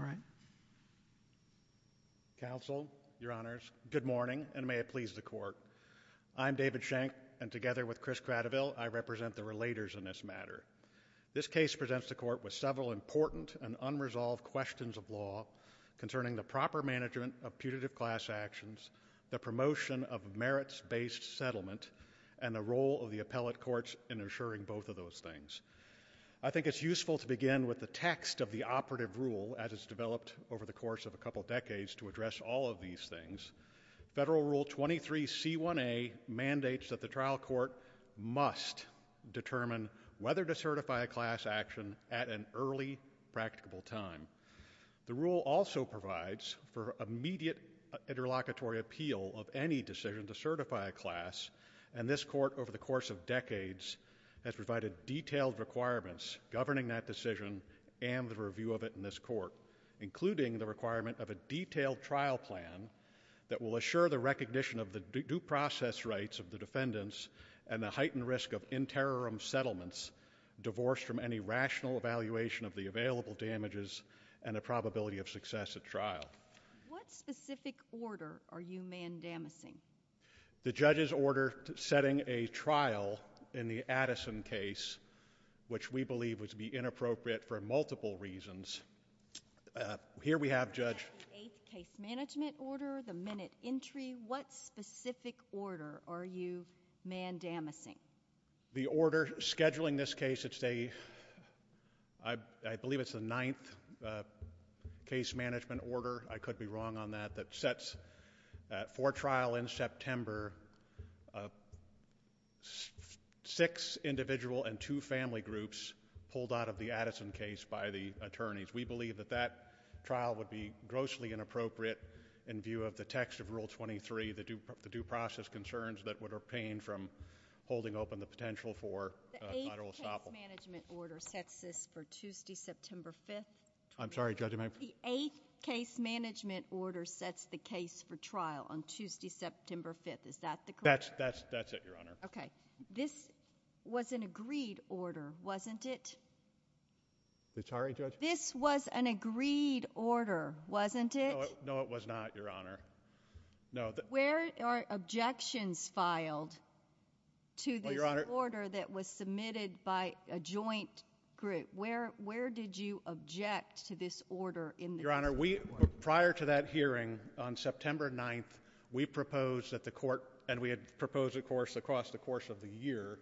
All right, counsel, your honors, good morning, and may it please the court. I'm David Shank, and together with Chris Cradiville, I represent the relators in this matter. This case presents the court with several important and unresolved questions of law concerning the proper management of putative class actions, the promotion of merits-based settlement, and the role of the appellate courts in assuring both of those things. I think it's useful to begin with the text of the operative rule as it's developed over the course of a couple decades to address all of these things. Federal Rule 23 c1a mandates that the trial court must determine whether to certify a class action at an early, practicable time. The rule also provides for immediate interlocutory appeal of any decision to certify a class, and this court over the course of decades has provided detailed requirements governing that decision and the review of it in this court, including the requirement of a detailed trial plan that will assure the recognition of the due process rights of the available damages and a probability of success at trial. What specific order are you mandamusing? The judge's order setting a trial in the Addison case, which we believe would be inappropriate for multiple reasons. Here we have, Judge, the eighth case management order, the minute entry. What specific order are you mandamusing? The order scheduling this case, it's a, I believe it's the ninth case management order, I could be wrong on that, that sets for trial in September six individual and two family groups pulled out of the Addison case by the attorneys. We believe that that trial would be grossly inappropriate in view of the text of Article 23, the due process concerns that would obtain from holding open the potential for. Management order sets this for Tuesday, September 5th. I'm sorry, Judge. The eighth case management order sets the case for trial on Tuesday, September 5th. Is that the correct? That's, that's, that's it, Your Honor. Okay. This was an agreed order, wasn't it? I'm sorry, Judge. This was an agreed order, wasn't it? No, it was not, Your Honor. No. Where are objections filed to this order that was submitted by a joint group? Where, where did you object to this order in the case? Your Honor, we, prior to that hearing on September 9th, we proposed that the court, and we had proposed, of course, across the course of the year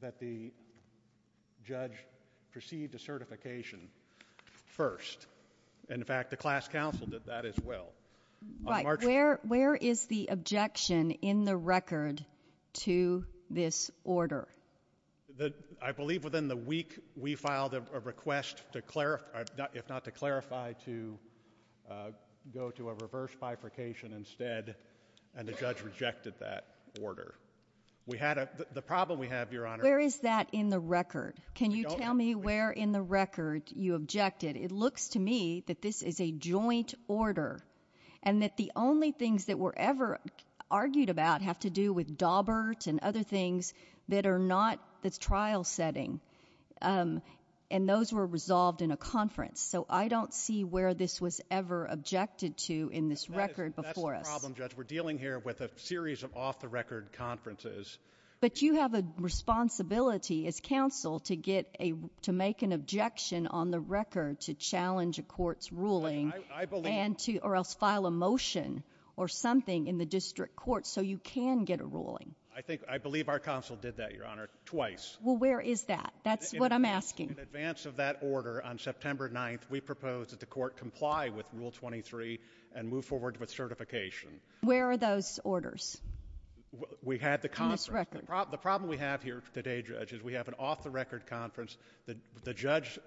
that the judge proceed to certification first. In fact, the class counsel did that as well. Right. Where, where is the objection in the record to this order? I believe within the week we filed a request to clarify, if not to clarify, to go to a reverse bifurcation instead, and the judge rejected that order. We had a, the problem we have, Your Honor... Where is that in the record? Can you tell me where in the record you objected? It looks to me that this is a joint order, and that the only things that were ever argued about have to do with Dawbert and other things that are not, that's trial setting, um, and those were resolved in a conference, so I don't see where this was ever objected to in this record before us. That's the problem, Judge. We're dealing here with a series of off-the-record conferences. But you have a responsibility as counsel to get a, to make an objection on the record to challenge a court's ruling... I, I believe... And to, or else file a motion or something in the district court so you can get a ruling. I think, I believe our counsel did that, Your Honor, twice. Well, where is that? That's what I'm asking. In advance of that order on September 9th, we proposed that the court comply with Rule 23 and move forward with certification. Where are those orders? We had the conference... In this record. The problem we have here today, Judge, is we have an off-the-record conference that the judge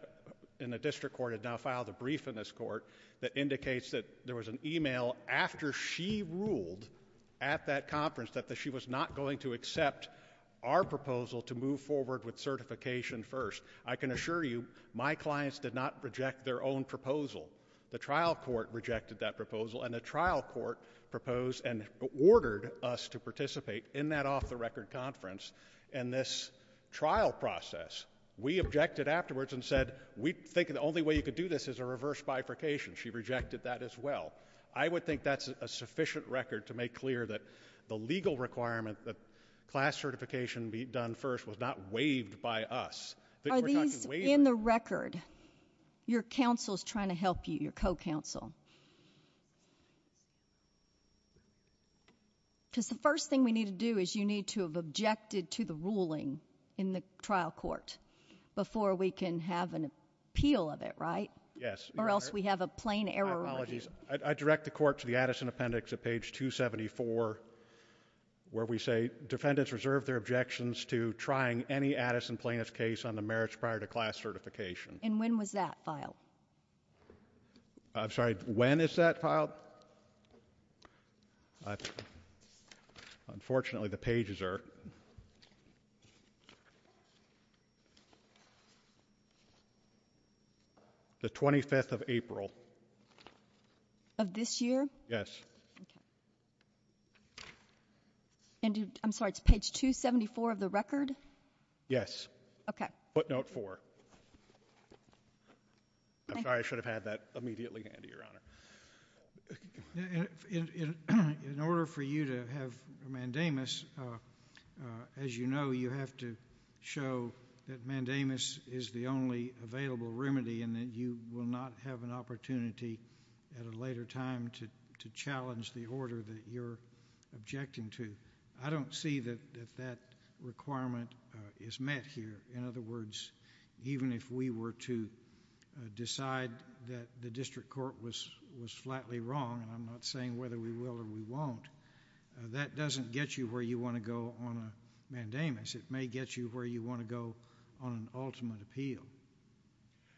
in the district court had now filed a brief in this court that indicates that there was an email after she ruled at that conference that she was not going to accept our proposal to move forward with certification first. I can assure you, my clients did not reject their own proposal. The trial court rejected that proposal and the trial court proposed and ordered us to participate in that off-the-record conference. In this trial process, we objected afterwards and said, we think the only way you could do this is a reverse bifurcation. She rejected that as well. I would think that's a sufficient record to make clear that the legal requirement that class certification be done first was not waived by us. Are these in the record? Your counsel is trying to help you, your co-counsel. Because the first thing we need to do is you need to have objected to the ruling in the trial court before we can have an appeal of it, right? Yes. Or else we have a plain error. I direct the court to the Addison Appendix at page 274 where we say defendants reserve their objections to trying any Addison plaintiff's case on the merits prior to class certification. And when was that filed? I'm sorry, when is that filed? Unfortunately, the pages are different. The 25th of April. Of this year? Yes. I'm sorry, it's page 274 of the record? Yes. Okay. Footnote four. I'm sorry, I should have had that immediately handy, Your Honor. In order for you to have mandamus, as you know, you have to show that mandamus is the only available remedy and that you will not have an opportunity at a later time to challenge the order that you're objecting to. I don't see that that requirement is met here. In other words, even if we were to decide that the district court was was flatly wrong, and I'm not saying whether we will or we won't, that doesn't get you where you want to go on a mandamus. It may get you where you want to go on an ultimate appeal.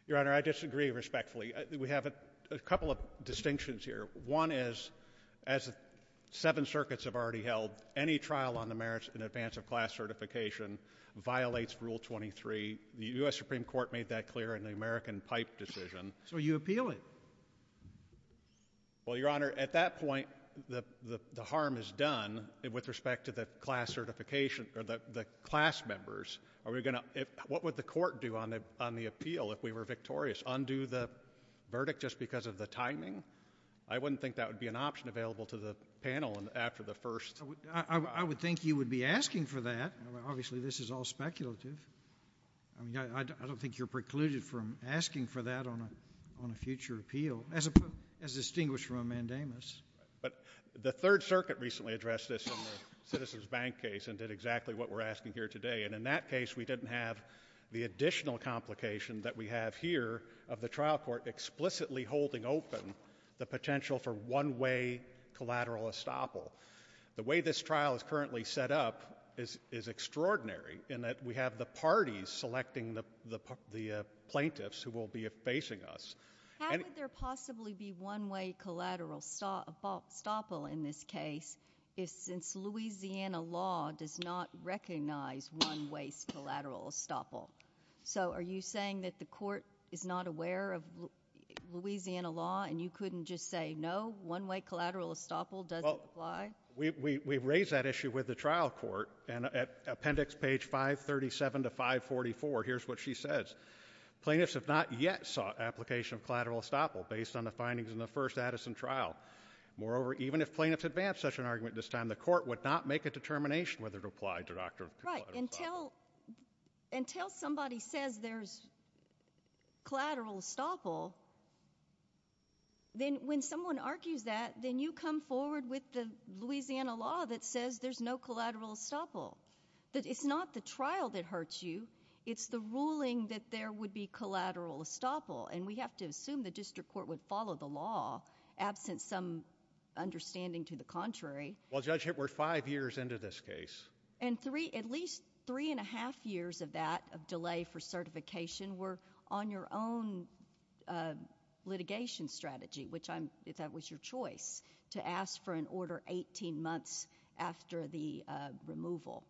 Your Honor, I disagree respectfully. We have a couple of distinctions here. One is, as seven circuits have already held, any trial on the merits in class certification violates Rule 23. The U.S. Supreme Court made that clear in the American Pipe decision. So you appeal it? Well, Your Honor, at that point, the harm is done with respect to the class certification or the class members. What would the court do on the appeal if we were victorious? Undo the verdict just because of the timing? I wouldn't think that would be an option available to the panel after the first. I would think you would be asking for that. Obviously, this is all speculative. I mean, I don't think you're precluded from asking for that on a future appeal, as distinguished from a mandamus. But the Third Circuit recently addressed this in the Citizens Bank case and did exactly what we're asking here today. And in that case, we didn't have the additional complication that we have here of the trial court explicitly holding open the potential for one-way collateral estoppel. The way this trial is currently set up is extraordinary in that we have the parties selecting the plaintiffs who will be facing us. How could there possibly be one-way collateral estoppel in this case if, since Louisiana law does not recognize one-way collateral estoppel? So are you saying that the court is not aware of no, one-way collateral estoppel doesn't apply? Well, we raised that issue with the trial court and at appendix page 537 to 544, here's what she says. Plaintiffs have not yet sought application of collateral estoppel based on the findings in the first Addison trial. Moreover, even if plaintiffs advance such an argument at this time, the court would not make a determination whether it applied to collateral estoppel. Right. Until somebody says there's collateral estoppel, when someone argues that, then you come forward with the Louisiana law that says there's no collateral estoppel. It's not the trial that hurts you, it's the ruling that there would be collateral estoppel, and we have to assume the district court would follow the law absent some understanding to the contrary. Well, Judge, we're five years into this case. And at least three and a half years of that, of delay for certification, were on your own litigation strategy, which I'm, if that was your choice, to ask for an order 18 months after the removal,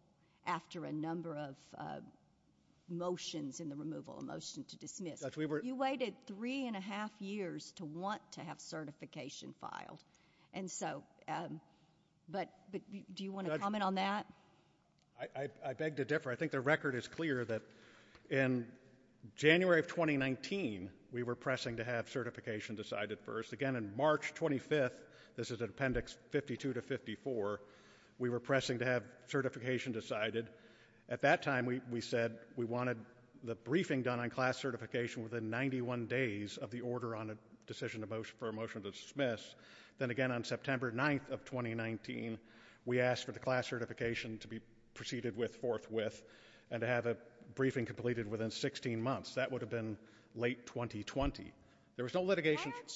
after a number of motions in the removal, a motion to dismiss. You waited three and a half years to want to have certification filed. And so, but do you want to comment on that? I beg to differ. I think the record is clear that in January of 2019, we were pressing to have certification decided first. Again, in March 25th, this is an appendix 52 to 54, we were pressing to have certification decided. At that time, we said we wanted the briefing done on class certification within 91 days of the order on a decision for a motion to dismiss. Then again, on September 9th of 2019, we asked for the class certification to be proceeded with, forthwith, and to have a Why aren't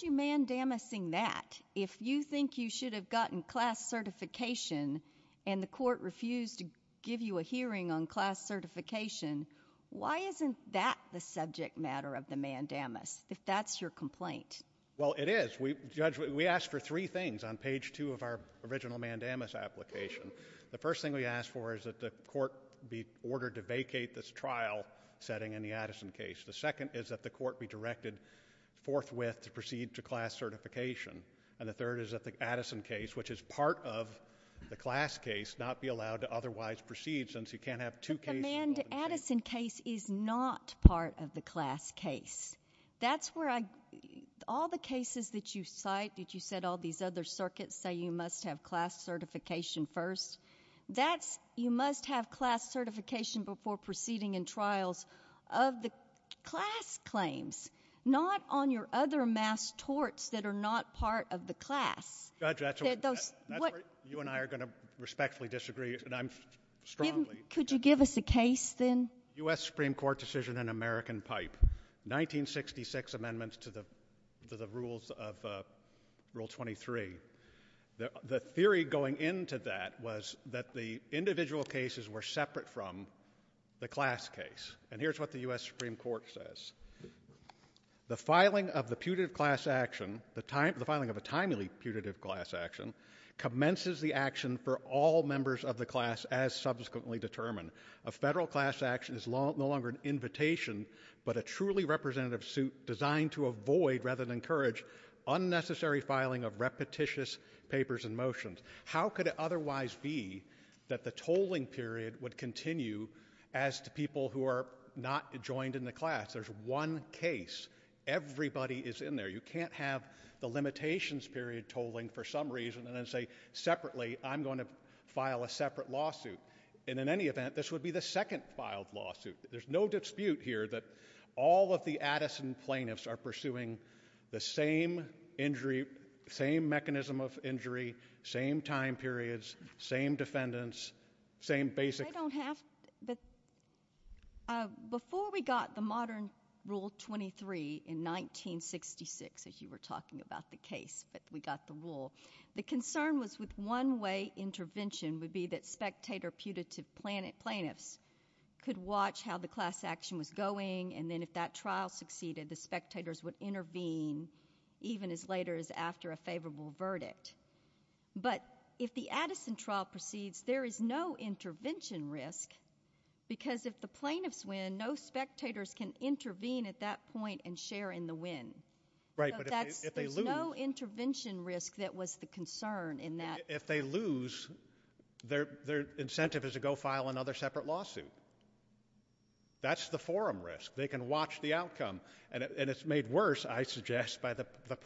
you mandamusing that? If you think you should have gotten class certification and the court refused to give you a hearing on class certification, why isn't that the subject matter of the mandamus, if that's your complaint? Well, it is. We, Judge, we asked for three things on page two of our original mandamus application. The first thing we asked for is that the court be ordered to vacate this trial setting in the to class certification. And the third is that the Addison case, which is part of the class case, not be allowed to otherwise proceed since you can't have two cases. But the Manda Addison case is not part of the class case. That's where I, all the cases that you cite, that you said all these other circuits say you must have class certification first, that's, you must have class certification before proceeding in trials of the class claims, not on your other mass torts that are not part of the class. Judge, that's where you and I are going to respectfully disagree, and I'm strongly— Could you give us a case, then? U.S. Supreme Court decision in American Pipe, 1966 amendments to the rules of Rule 23. The theory going into that was that the individual cases were separate from the class case. And here's what the U.S. Supreme Court says. The filing of the putative class action, the filing of a timely putative class action, commences the action for all members of the class as subsequently determined. A federal class action is no longer an invitation, but a truly representative suit designed to avoid rather than encourage unnecessary filing of repetitious papers and motions. How could it otherwise be that the tolling period would continue as to people who are not joined in the class? There's one case. Everybody is in there. You can't have the limitations period tolling for some reason and then say, separately, I'm going to file a separate lawsuit. And in any event, this would be the second filed lawsuit. There's no dispute here that all of the Addison plaintiffs are pursuing the same injury, same mechanism of injury, same time periods, same defendants, same basic— Before we got the modern Rule 23 in 1966, as you were talking about the case that we got the rule, the concern was with one-way intervention would be that spectator putative plaintiffs could watch how the class action was going, and then if that trial succeeded, the spectators would intervene even as later as after a favorable verdict. But if the Addison trial proceeds, there is no intervention risk because if the plaintiffs win, no spectators can intervene at that point and share in the win. So there's no intervention risk that was the concern in that. If they lose, their incentive is to go file another separate lawsuit. That's the forum risk. They can watch the outcome, and it's made worse, I suggest, by the whether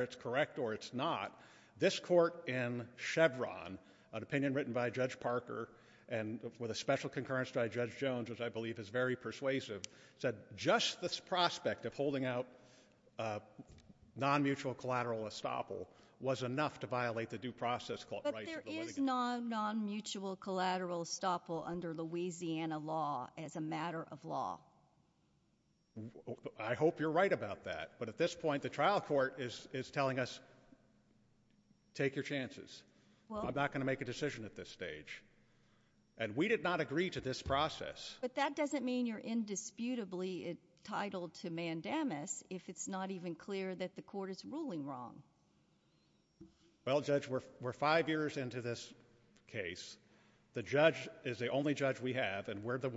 it's correct or it's not. This court in Chevron, an opinion written by Judge Parker and with a special concurrence by Judge Jones, which I believe is very persuasive, said just this prospect of holding out a non-mutual collateral estoppel was enough to violate the due process— But there is non-mutual collateral estoppel under Louisiana law as a matter of law. I hope you're right about that. But at this point, the trial court is telling us, take your chances. I'm not going to make a decision at this stage. And we did not agree to this process. But that doesn't mean you're indisputably entitled to mandamus if it's not even clear that the court is ruling wrong. Well, Judge, we're five years into this case. The judge is the only judge we have, and we're the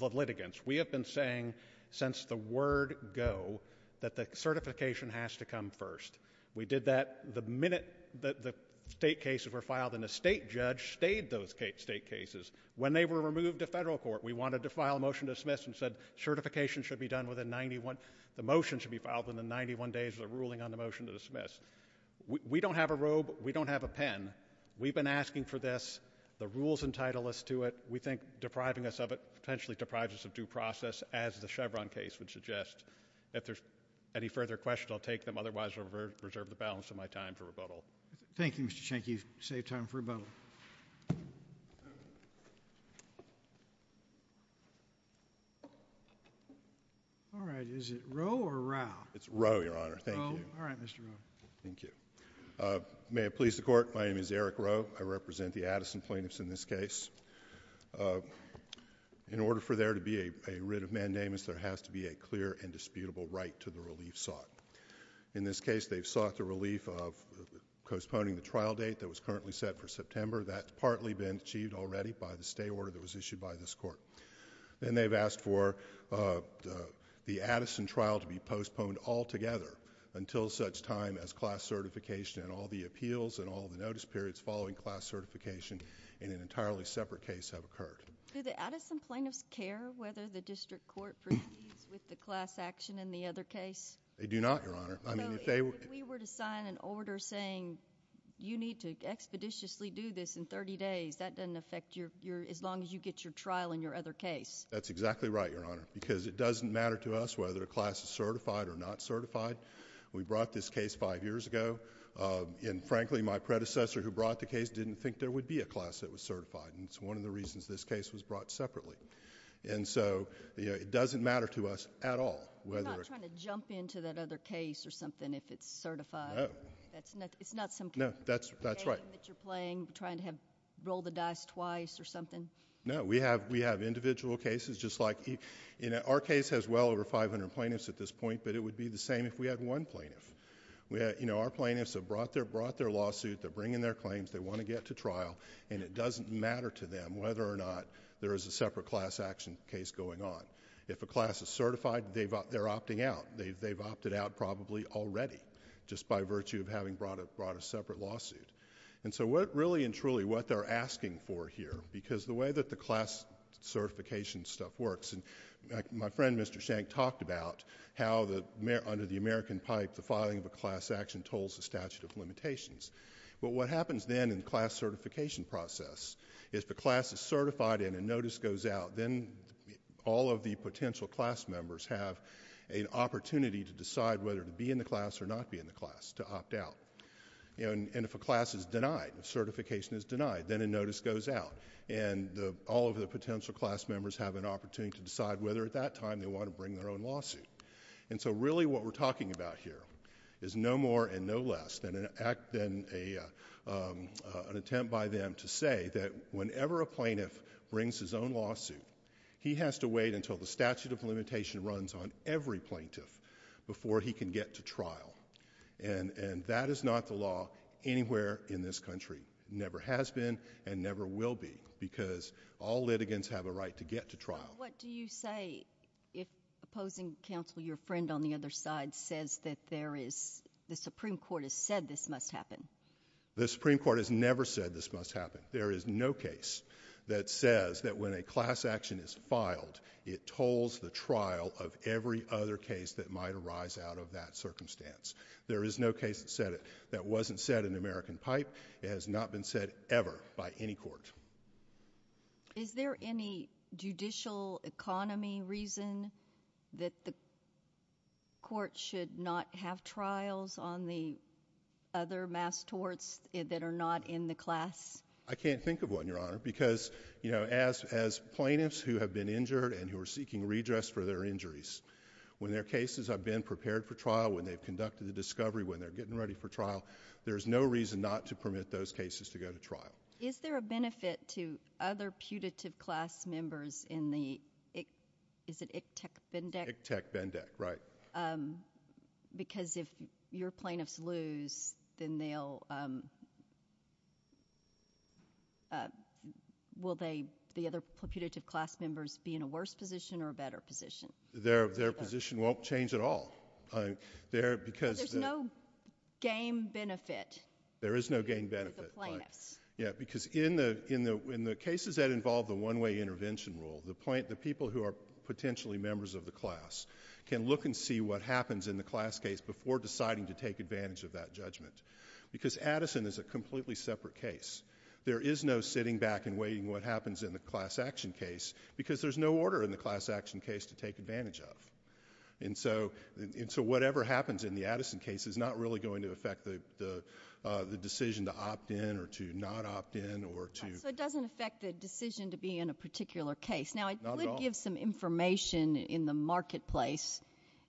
litigants. We have been saying since the word go that the certification has to come first. We did that the minute that the state cases were filed, and the state judge stayed those state cases. When they were removed to federal court, we wanted to file a motion to dismiss and said certification should be done within 91— the motion should be filed within 91 days of the ruling on the motion to dismiss. We don't have a robe. We don't have a pen. We've been asking for this. The rules entitle us to it. We think depriving us of it potentially deprives us of due process, as the Chevron case would suggest. If there's any further questions, I'll take them. Otherwise, I'll reserve the balance of my time for rebuttal. Thank you, Mr. Schenke. You've saved time for rebuttal. All right. Is it Roe or Rau? It's Roe, Your Honor. Thank you. Roe? All right, Mr. Roe. Thank you. May it please the court, my name is Eric Roe. I represent the Addison plaintiffs in this case. In order for there to be a writ of mandamus, there has to be a clear and disputable right to the relief sought. In this case, they've sought the relief of postponing the trial date that was currently set for September. That's partly been achieved already by the stay order that was issued by this court. Then they've asked for the Addison trial to be postponed altogether until such time as class certification and all the appeals and all the notice periods following class certification in an entirely separate case have occurred. Do the Addison plaintiffs care whether the district court agrees with the class action in the other case? They do not, Your Honor. I mean, if they were... If we were to sign an order saying you need to expeditiously do this in 30 days, that doesn't affect you as long as you get your trial in your other case. That's exactly right, Your Honor, because it doesn't matter to us whether a class is certified or not certified. We brought this case five years ago. Frankly, my predecessor who brought the case didn't think there would be a class that was certified. It's one of the reasons this case was brought separately. It doesn't matter to us at all whether... You're not trying to jump into that other case or something if it's certified. No. It's not some... No, that's right... game that you're playing, trying to roll the dice twice or something? No. We have individual cases just like... Our case has well over 500 plaintiffs at this point, but it would be the same if we had one plaintiff. Our plaintiffs have brought their lawsuit, they're bringing their claims, they want to get to trial, and it doesn't matter to them whether or not there is a separate class action case going on. If a class is certified, they're opting out. They've opted out probably already just by virtue of having brought a separate lawsuit. And so what really and truly what they're asking for here, because the way that class certification stuff works... My friend, Mr. Shank, talked about how under the American Pipe, the filing of a class action tolls the statute of limitations. But what happens then in the class certification process is if a class is certified and a notice goes out, then all of the potential class members have an opportunity to decide whether to be in the class or not be in the class, to opt out. And if a class is denied, certification is denied, then a notice goes out, and all of the potential class members have an opportunity to decide whether at that time they want to bring their own lawsuit. And so really what we're talking about here is no more and no less than an attempt by them to say that whenever a plaintiff brings his own lawsuit, he has to wait until the statute of limitation runs on every plaintiff before he can get to trial. And that is not the law anywhere in this country. Never has been and never will be, because all litigants have a right to get to trial. But what do you say if opposing counsel, your friend on the other side, says that there is... the Supreme Court has said this must happen? The Supreme Court has never said this must happen. There is no case that says that when a class action is filed, it tolls the trial of every other case that might arise out of that circumstance. There is no case that said it. That wasn't said in American Pipe. It has not been said ever by any court. Is there any judicial economy reason that the court should not have trials on the other mass torts that are not in the class? I can't think of one, Your Honor, because, you know, as plaintiffs who have been injured and who are seeking redress for their injuries, when their cases have been prepared for trial, when they've conducted the discovery, when they're getting ready for trial, there's no reason not to permit those cases to go to trial. Is there a benefit to other putative class members in the... is it ICTEC-BENDEC? ICTEC-BENDEC, right. Um, because if your plaintiffs lose, then they'll, um, will they, the other putative class members, be in a worse position or a better position? Their, their position won't change at all. There, because... So there's no game benefit? There is no game benefit. Yeah, because in the, in the, in the cases that involve the one-way intervention rule, the people who are potentially members of the class can look and see what happens in the class case before deciding to take advantage of that judgment. Because Addison is a completely separate case. There is no sitting back and waiting what happens in the class action case because there's no order in the class action case to take advantage of. And so, and so whatever happens in the Addison case is not really going to affect the, the, uh, the decision to opt in or to not opt in or to... Now, I could give some information in the marketplace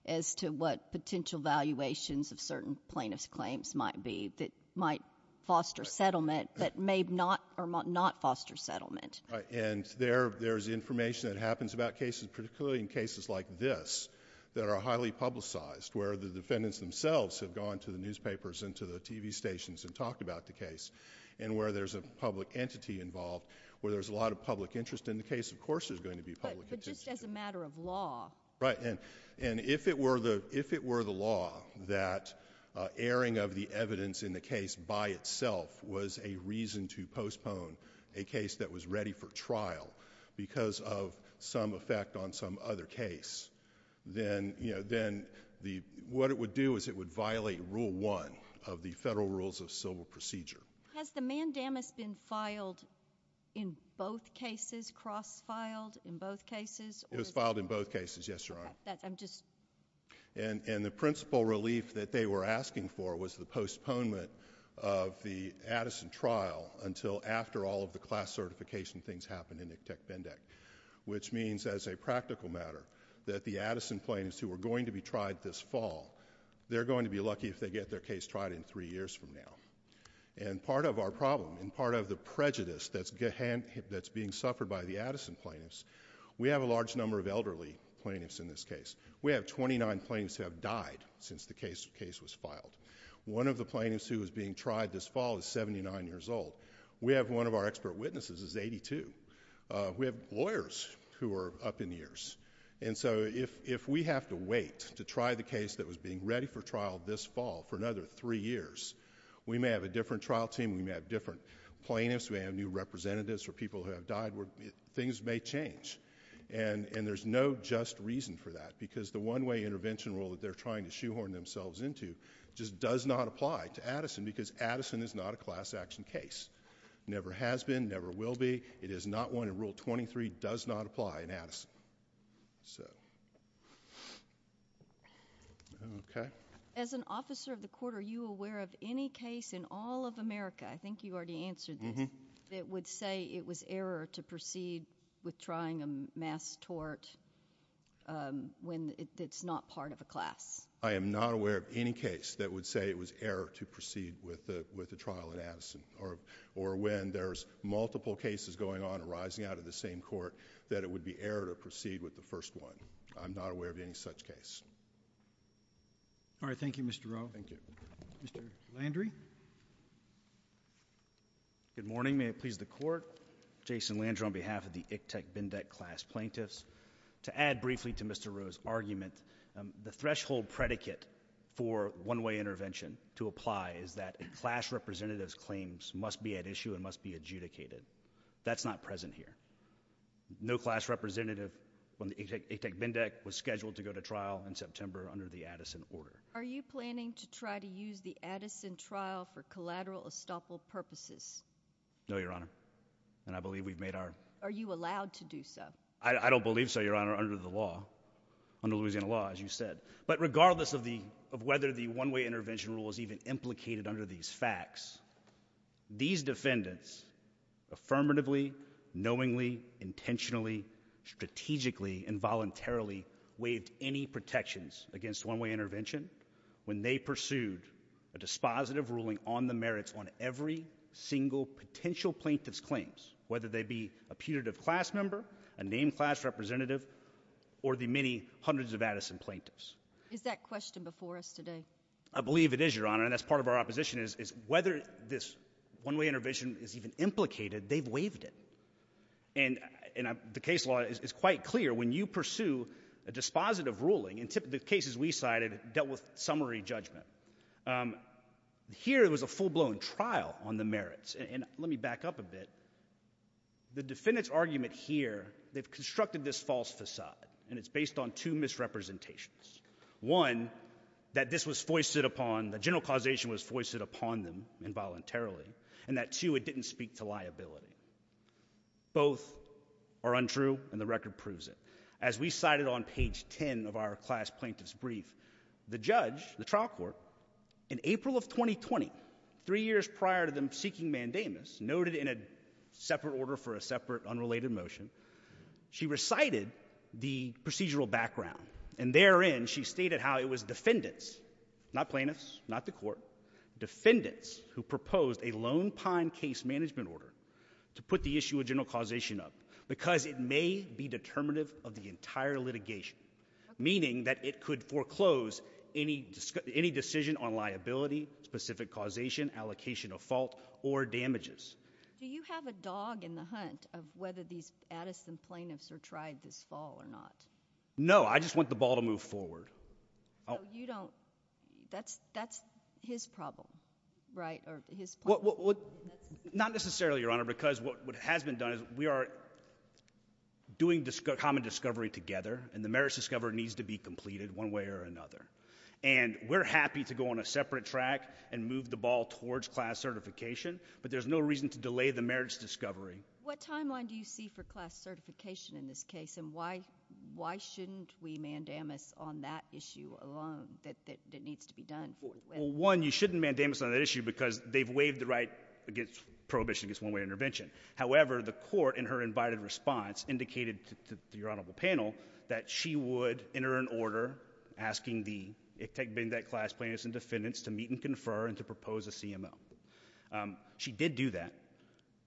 as to what potential valuations of certain plaintiff's claims might be that might foster settlement, but may not, or might not foster settlement. Right. And there, there's information that happens about cases, particularly in cases like this that are highly publicized, where the defendants themselves have gone to the newspapers and to the TV stations and talked about the case, and where there's a public entity involved, where there's a public interest in the case. Of course, there's going to be public... But, but just as a matter of law... Right. And, and if it were the, if it were the law that, uh, airing of the evidence in the case by itself was a reason to postpone a case that was ready for trial because of some effect on some other case, then, you know, then the, what it would do is it would violate Rule 1 of the Federal Rules of Civil Procedure. Has the mandamus been filed in both cases, cross-filed in both cases, or... It was filed in both cases, yes, Your Honor. That, I'm just... And, and the principal relief that they were asking for was the postponement of the Addison trial until after all of the class certification things happened in ICTEC-BENDEC, which means, as a practical matter, that the Addison plaintiffs who are going to be tried this fall, they're going to be lucky if they get their case tried in three years from now. And part of our problem, and part of the prejudice that's being suffered by the Addison plaintiffs, we have a large number of elderly plaintiffs in this case. We have 29 plaintiffs who have died since the case was filed. One of the plaintiffs who is being tried this fall is 79 years old. We have one of our expert witnesses is 82. We have lawyers who are up in years. And so, if, if we have to wait to try the case that was being ready for trial this fall for another three years, we may have a different trial team. We may have different plaintiffs. We may have new representatives or people who have died. Things may change. And, and there's no just reason for that because the one-way intervention rule that they're trying to shoehorn themselves into just does not apply to Addison because Addison is not a class action case. Never has been. Never will be. It is not one in Rule 23. Does not apply in Addison. So. Okay. As an officer of the court, are you aware of any case in all of America, I think you already answered this, that would say it was error to proceed with trying a mass tort when it's not part of a class? I am not aware of any case that would say it was error to proceed with the, with the trial in Addison or, or when there's multiple cases going on arising out of the same court that it would be error to proceed with the first one. I'm not aware of any such case. All right. Thank you, Mr. Rowe. Thank you. Mr. Landry. Good morning. May it please the court. Jason Landry on behalf of the ICTEC-BENDEC class plaintiffs. To add briefly to Mr. Rowe's argument, the threshold predicate for one-way intervention to apply is that a class representative's claims must be at issue and must be adjudicated. That's not present here. No class representative when the ICTEC-BENDEC was scheduled to go to trial in September under the Addison order. Are you planning to try to use the Addison trial for collateral estoppel purposes? No, Your Honor. And I believe we've made our... Are you allowed to do so? I don't believe so, Your Honor, under the law, under Louisiana law, as you said. But regardless of the, of whether the one-way intervention rule is even implicated under these facts, these defendants affirmatively, knowingly, intentionally, strategically, involuntarily waived any protections against one-way intervention when they pursued a dispositive ruling on the merits on every single potential plaintiff's claims, whether they be a putative class member, a named class representative, or the many hundreds of Addison plaintiffs. Is that question before us today? I believe it is, Your Honor. And that's part of our opposition is whether this one-way intervention is even implicated, they've waived it. And the case law is quite clear. When you pursue a dispositive ruling, in the cases we cited, dealt with summary judgment. Here, it was a full-blown trial on the merits. And let me back up a bit. The defendant's argument here, they've constructed this false facade, and it's based on two misrepresentations. One, that this was foisted upon, the general causation was foisted upon them involuntarily, and that two, it didn't speak to liability. Both are untrue, and the record proves it. As we cited on page 10 of our class plaintiff's brief, the judge, the trial court, in April of 2020, three years prior to them seeking mandamus, noted in a separate order for a separate unrelated motion, she recited the procedural background. And therein, she stated how it was defendants, not plaintiffs, not the court, defendants who proposed a Lone Pine case management order to put the issue of general causation up because it may be determinative of the entire litigation, meaning that it could foreclose any decision on liability, specific causation, allocation of fault, or damages. Do you have a dog in the hunt of whether these Addison plaintiffs are tried this fall or not? No, I just want the ball to move forward. So you don't, that's, that's his problem, right? Or his point? Well, not necessarily, Your Honor, because what has been done is we are doing common discovery together, and the merits discovery needs to be completed one way or another. And we're happy to go on a separate track and move the ball towards class certification, but there's no reason to delay the merits discovery. What timeline do you see for class certification in this case, and why, why shouldn't we mandamus on that issue alone that needs to be done? One, you shouldn't mandamus on that issue because they've waived the right against prohibition against one-way intervention. However, the court, in her invited response, indicated to your Honorable panel that she would enter an order asking the ICTEC-BENDET class plaintiffs and defendants to meet and confer and to propose a CMO. She did do that.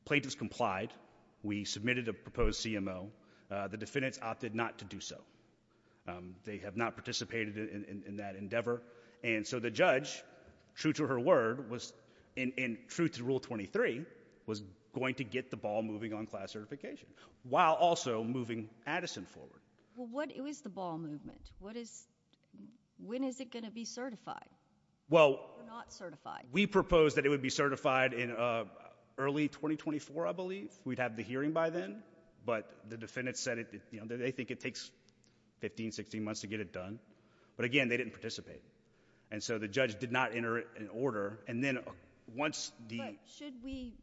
Plaintiffs complied. We submitted a proposed CMO. The defendants opted not to do so. They have not participated in that endeavor. And so the judge, true to her word, was, and true to Rule 23, was going to get the ball moving on class certification while also moving Addison forward. Well, what is the ball movement? What is, when is it going to be certified? Well, we proposed that it would be certified in early 2024, I believe. We'd have the hearing by then, but the defendants said it, you know, they think it takes 15, 16 months to get it done. But again, they didn't participate. And so the judge did not enter an order. And then once the— But should we,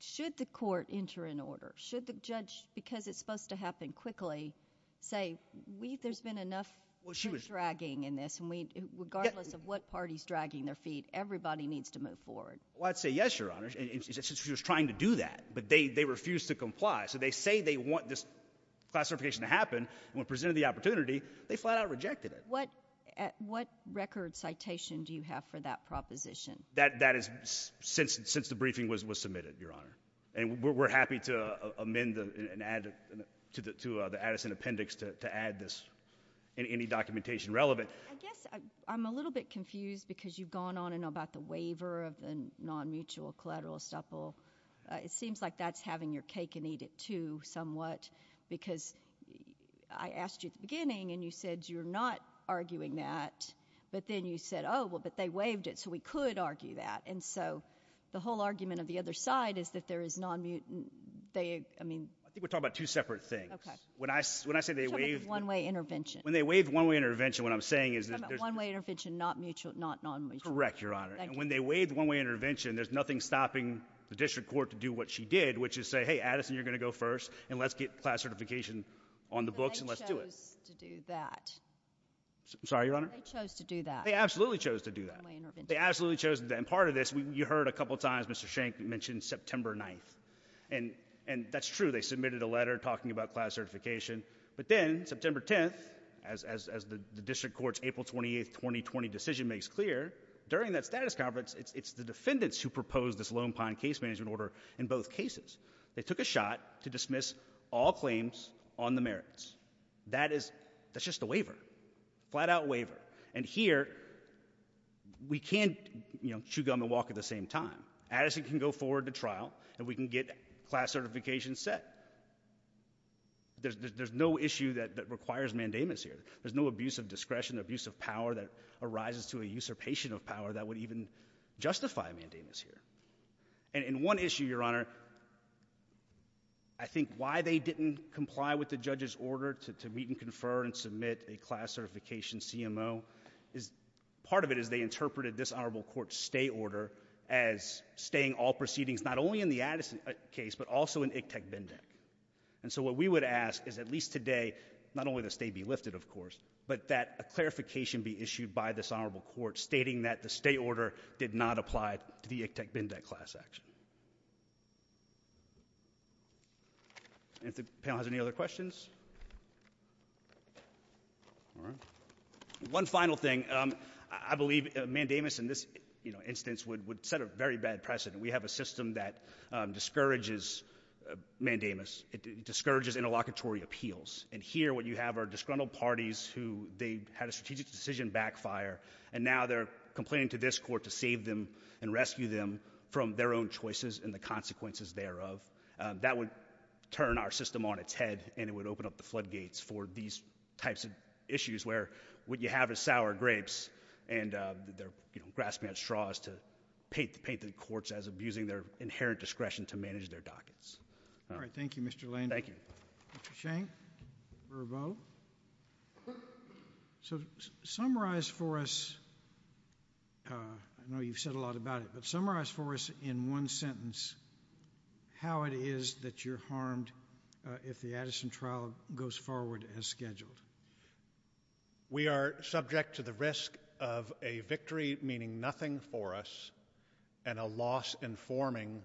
should the court enter an order? Should the judge, because it's supposed to happen quickly, say, we, there's been enough dragging in this, and we, regardless of what party's dragging their feet, everybody needs to move forward? Well, I'd say yes, Your Honor, and she was trying to do that, but they refused to comply. So they say they want this classification to happen, and when presented the opportunity, they flat-out rejected it. What, what record citation do you have for that proposition? That, that is, since, since the briefing was, was submitted, Your Honor. And we're happy to amend and add to the, to the Addison appendix to add this, any documentation relevant. I guess I'm a little bit confused because you've gone on and about the waiver of the non-mutual collateral estuple. It seems like that's having your cake and eat it, too, somewhat, because I asked you at the beginning, and you said you're not arguing that, but then you said, oh, well, but they waived it, so we could argue that. And so the whole argument of the other side is that there is non-mutual, they, I mean— I think we're talking about two separate things. When I, when I say they waived— We're talking about one-way intervention. When they waived one-way intervention, what I'm saying is that there's— I'm talking about one-way intervention, not mutual, not non-mutual. Correct, Your Honor. Thank you. When they waived one-way intervention, there's nothing stopping the district court to do what she did, which is say, hey, Addison, you're going to go first, and let's get class certification on the books, and let's do it. But they chose to do that. I'm sorry, Your Honor? They chose to do that. They absolutely chose to do that. One-way intervention. They absolutely chose to do that. And part of this, you heard a couple times, Mr. Schenck mentioned September 9th. And, and that's true. They submitted a letter talking about class certification. But then, September 10th, as, as the district court's April 28th, 2020 decision makes clear, during that status conference, it's, it's the defendants who proposed this Lone Pine case management order in both cases. They took a shot to dismiss all claims on the merits. That is, that's just a waiver. Flat-out waiver. And here, we can't, you know, chew gum and walk at the same time. Addison can go forward to trial, and we can get class certification set. There's, there's no issue that, that requires mandamus here. There's no abuse of discretion, abuse of power that arises to a usurpation of power that would even justify a mandamus here. And, and one issue, Your Honor, I think why they didn't comply with the judge's order to, to meet and confer and submit a class certification CMO is, part of it is they interpreted this honorable court's stay order as staying all proceedings, not only in the Addison case, but also in ICTEC-BENDEC. And so what we would ask is at least today, not only the stay be lifted, of course, but that a clarification be issued by this honorable court stating that the stay order did not apply to the ICTEC-BENDEC class action. And if the panel has any other questions? All right. One final thing, um, I believe a mandamus in this, you know, instance would, would set a very bad precedent. We have a system that discourages mandamus, it discourages interlocutory appeals. And here what you have are disgruntled parties who they had a strategic decision backfire and now they're complaining to this court to save them and rescue them from their own choices and the consequences thereof. That would turn our system on its head and it would open up the floodgates for these types of issues where what you have is sour grapes and they're, you know, grass-fed straws paid, paid the courts as abusing their inherent discretion to manage their dockets. All right. Thank you, Mr. Lane. Thank you. Mr. Sheng, Verbo. So summarize for us, uh, I know you've said a lot about it, but summarize for us in one sentence how it is that you're harmed, uh, if the Addison trial goes forward as scheduled. We are subject to the risk of a victory meaning nothing for us and a loss informing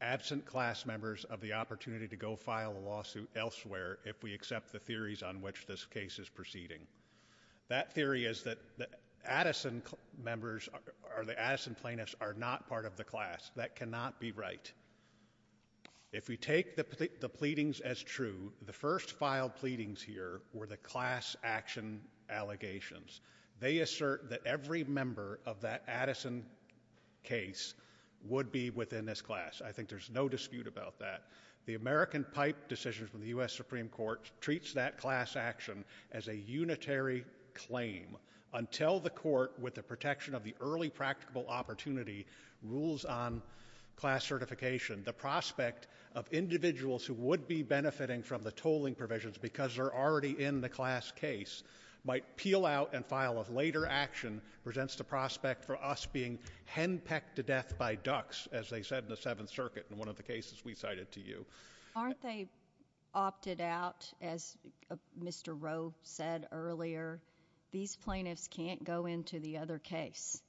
absent class members of the opportunity to go file a lawsuit elsewhere if we accept the theories on which this case is proceeding. That theory is that the Addison members are the Addison plaintiffs are not part of the class that cannot be right. If we take the, the pleadings as true, the first filed pleadings here were the class action allegations. They assert that every member of that Addison case would be within this class. I think there's no dispute about that. The American pipe decisions from the U.S. Supreme Court treats that class action as a unitary claim until the court with the protection of the early practical opportunity rules on class certification. The prospect of individuals who would be benefiting from the tolling provisions because they're already in the class case might peel out and file a later action presents the prospect for us being henpecked to death by ducks as they said in the seventh circuit in one of the cases we cited to you. Aren't they opted out as Mr. Rowe said earlier, these plaintiffs can't go into the other case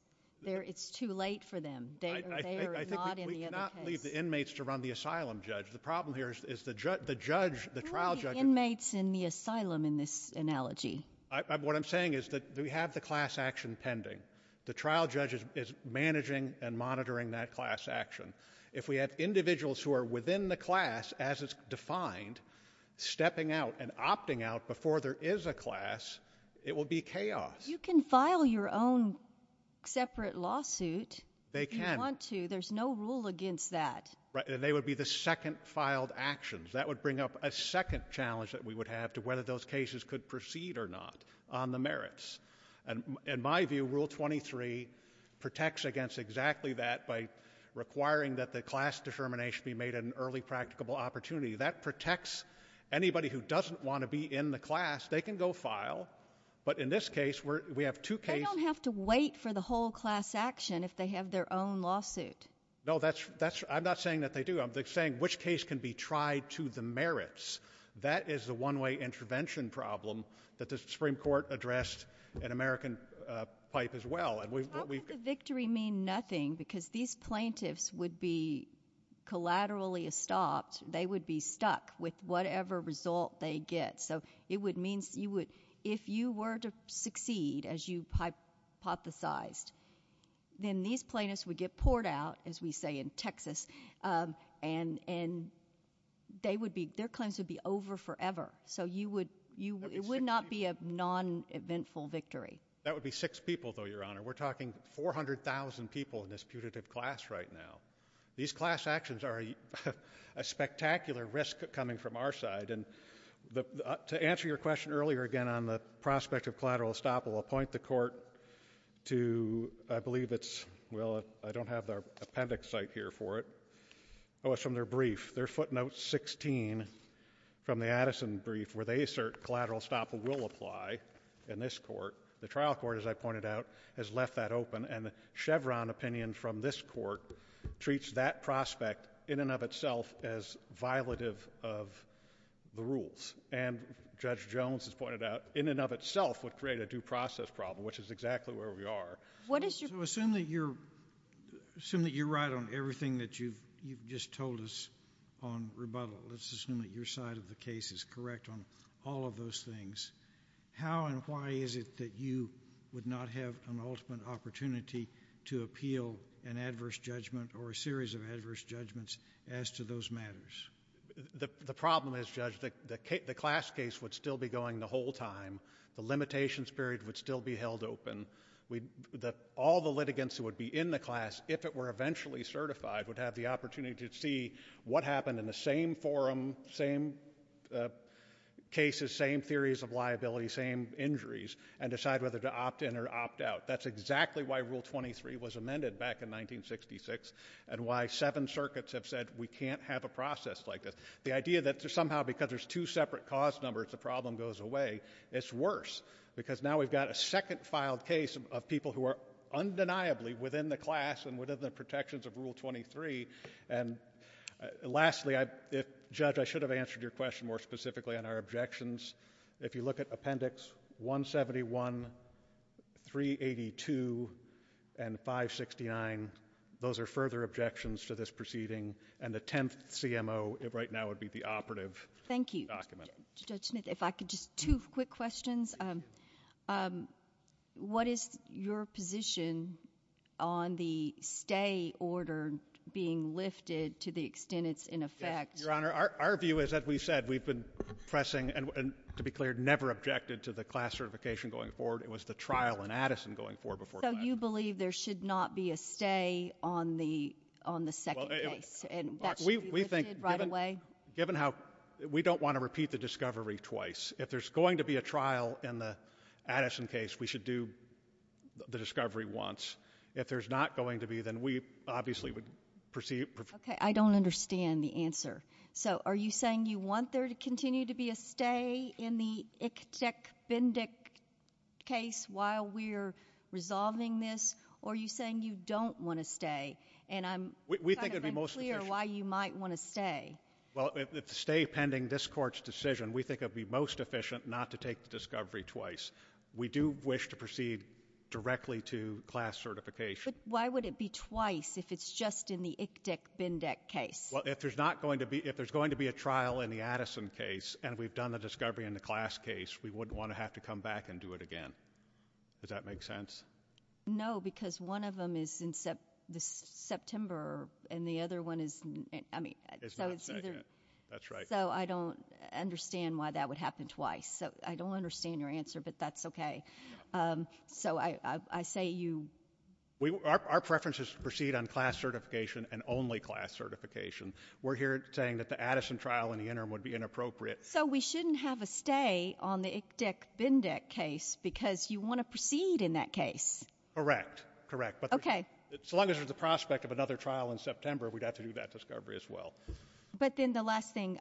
there. It's too late for them. I think we cannot leave the inmates to run the asylum judge. The problem here is the judge, the trial judge inmates in the asylum. In this analogy, what I'm saying is that we have the class action pending. The trial judge is managing and monitoring that class action. If we have individuals who are within the class as it's defined, stepping out and opting out before there is a class, it will be chaos. You can file your own separate lawsuit. They can't want to. There's no rule against that. Right. And they would be the second filed actions that would bring up a second challenge that we would have to whether those cases could proceed or not on the merits. And in my view, rule 23 protects against exactly that by requiring that the class determination be made an early practicable opportunity that protects anybody who doesn't want to be in the class. They can go file. But in this case, we have two cases. They don't have to wait for the whole class action if they have their own lawsuit. No, I'm not saying that they do. I'm saying which case can be tried to the merits. That is the one-way intervention problem that the Supreme Court addressed in American Pipe as well. How could the victory mean nothing? Because these plaintiffs would be collaterally stopped. They would be stuck with whatever result they get. So it would mean if you were to succeed as you hypothesized, then these plaintiffs would get poured out, as we say in Texas, and their claims would be over forever. So it would not be a non-eventful victory. That would be six people, though, Your Honor. We're talking 400,000 people in this putative class right now. These class actions are a spectacular risk coming from our side. And to answer your question earlier, again, on the prospect of collateral estoppel, I'll point the court to, I believe it's, well, I don't have their appendix site here for it. Oh, it's from their brief, their footnote 16 from the Addison brief, where they assert collateral estoppel will apply in this court. The trial court, as I pointed out, has left that open. And Chevron opinion from this court treats that prospect in and of itself as violative of the rules. And Judge Jones has pointed out, in and of itself would create a due process problem, which is exactly where we are. So assume that you're right on everything that you've just told us on rebuttal. Let's assume that your side of the case is correct on all of those things. How and why is it that you would not have an ultimate opportunity to appeal an adverse judgment or a series of adverse judgments as to those matters? The problem is, Judge, the class case would still be going the whole time. The limitations period would still be held open. All the litigants who would be in the class, if it were eventually certified, would have the opportunity to see what happened in the same forum, same cases, same theories of liability, same injuries, and decide whether to opt in or opt out. That's exactly why Rule 23 was amended back in 1966, and why seven circuits have said we can't have a process like this. The idea that somehow, because there's two separate cause numbers, the problem goes away. It's worse, because now we've got a second filed case of people who are undeniably within the class and within the protections of Rule 23. And lastly, Judge, I should have answered your question more specifically on our objections. If you look at Appendix 171, 382, and 569, those are further objections to this proceeding. And the 10th CMO, right now, would be the operative document. Thank you. Judge Smith, if I could, just two quick questions. What is your position on the stay order being lifted to the extent it's in effect? Yes, Your Honor. Our view is, as we said, we've been pressing, and to be clear, never objected to the class certification going forward. It was the trial in Addison going forward before that. So you believe there should not be a stay on the second case? And that should be lifted right away? Given how we don't want to repeat the discovery twice. If there's going to be a trial in the Addison case, we should do the discovery once. If there's not going to be, then we obviously would proceed. OK. I don't understand the answer. So are you saying you want there to continue to be a stay in the Iktik-Bendik case while we're resolving this? Or are you saying you don't want a stay? And I'm kind of unclear why you might want to stay. Well, if the stay pending this Court's decision, we think it would be most efficient not to take the discovery twice. We do wish to proceed directly to class certification. But why would it be twice if it's just in the Iktik-Bendik case? Well, if there's going to be a trial in the Addison case, and we've done the discovery in the class case, we wouldn't want to have to come back and do it again. Does that make sense? No, because one of them is in September, and the other one is, I mean, so it's either— It's not second. That's right. So I don't understand why that would happen twice. So I don't understand your answer, but that's OK. So I say you— Our preference is to proceed on class certification and only class certification. We're here saying that the Addison trial in the interim would be inappropriate. So we shouldn't have a stay on the Iktik-Bendik case because you want to proceed in that case. Correct, correct. OK. So long as there's a prospect of another trial in September, we'd have to do that discovery as well. But then the last thing,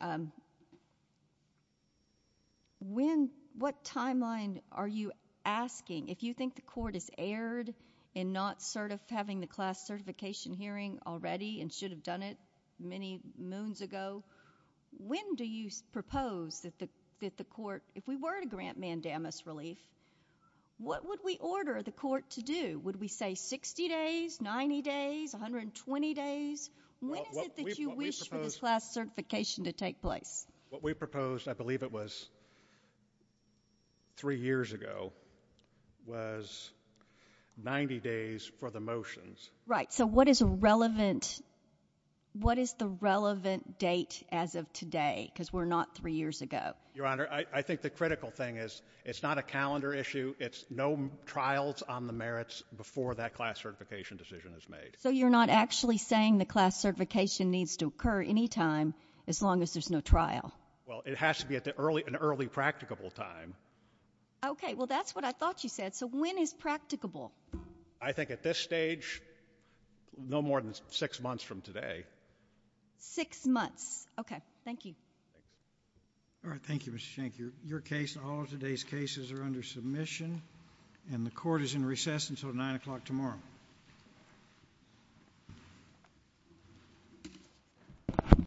what timeline are you asking? If you think the court has erred in not having the class certification hearing already and should have done it many moons ago, when do you propose that the court— What would we order the court to do? Would we say 60 days, 90 days, 120 days? When is it that you wish for this class certification to take place? What we proposed, I believe it was three years ago, was 90 days for the motions. Right. So what is a relevant— What is the relevant date as of today? Because we're not three years ago. Your Honor, I think the critical thing is it's not a calendar issue. It's no trials on the merits before that class certification decision is made. So you're not actually saying the class certification needs to occur any time as long as there's no trial? Well, it has to be at an early practicable time. OK. Well, that's what I thought you said. So when is practicable? I think at this stage, no more than six months from today. Six months. OK. Thank you. All right. Thank you, Mr. Schenck. Your case and all of today's cases are under submission, and the Court is in recess until 9 o'clock tomorrow.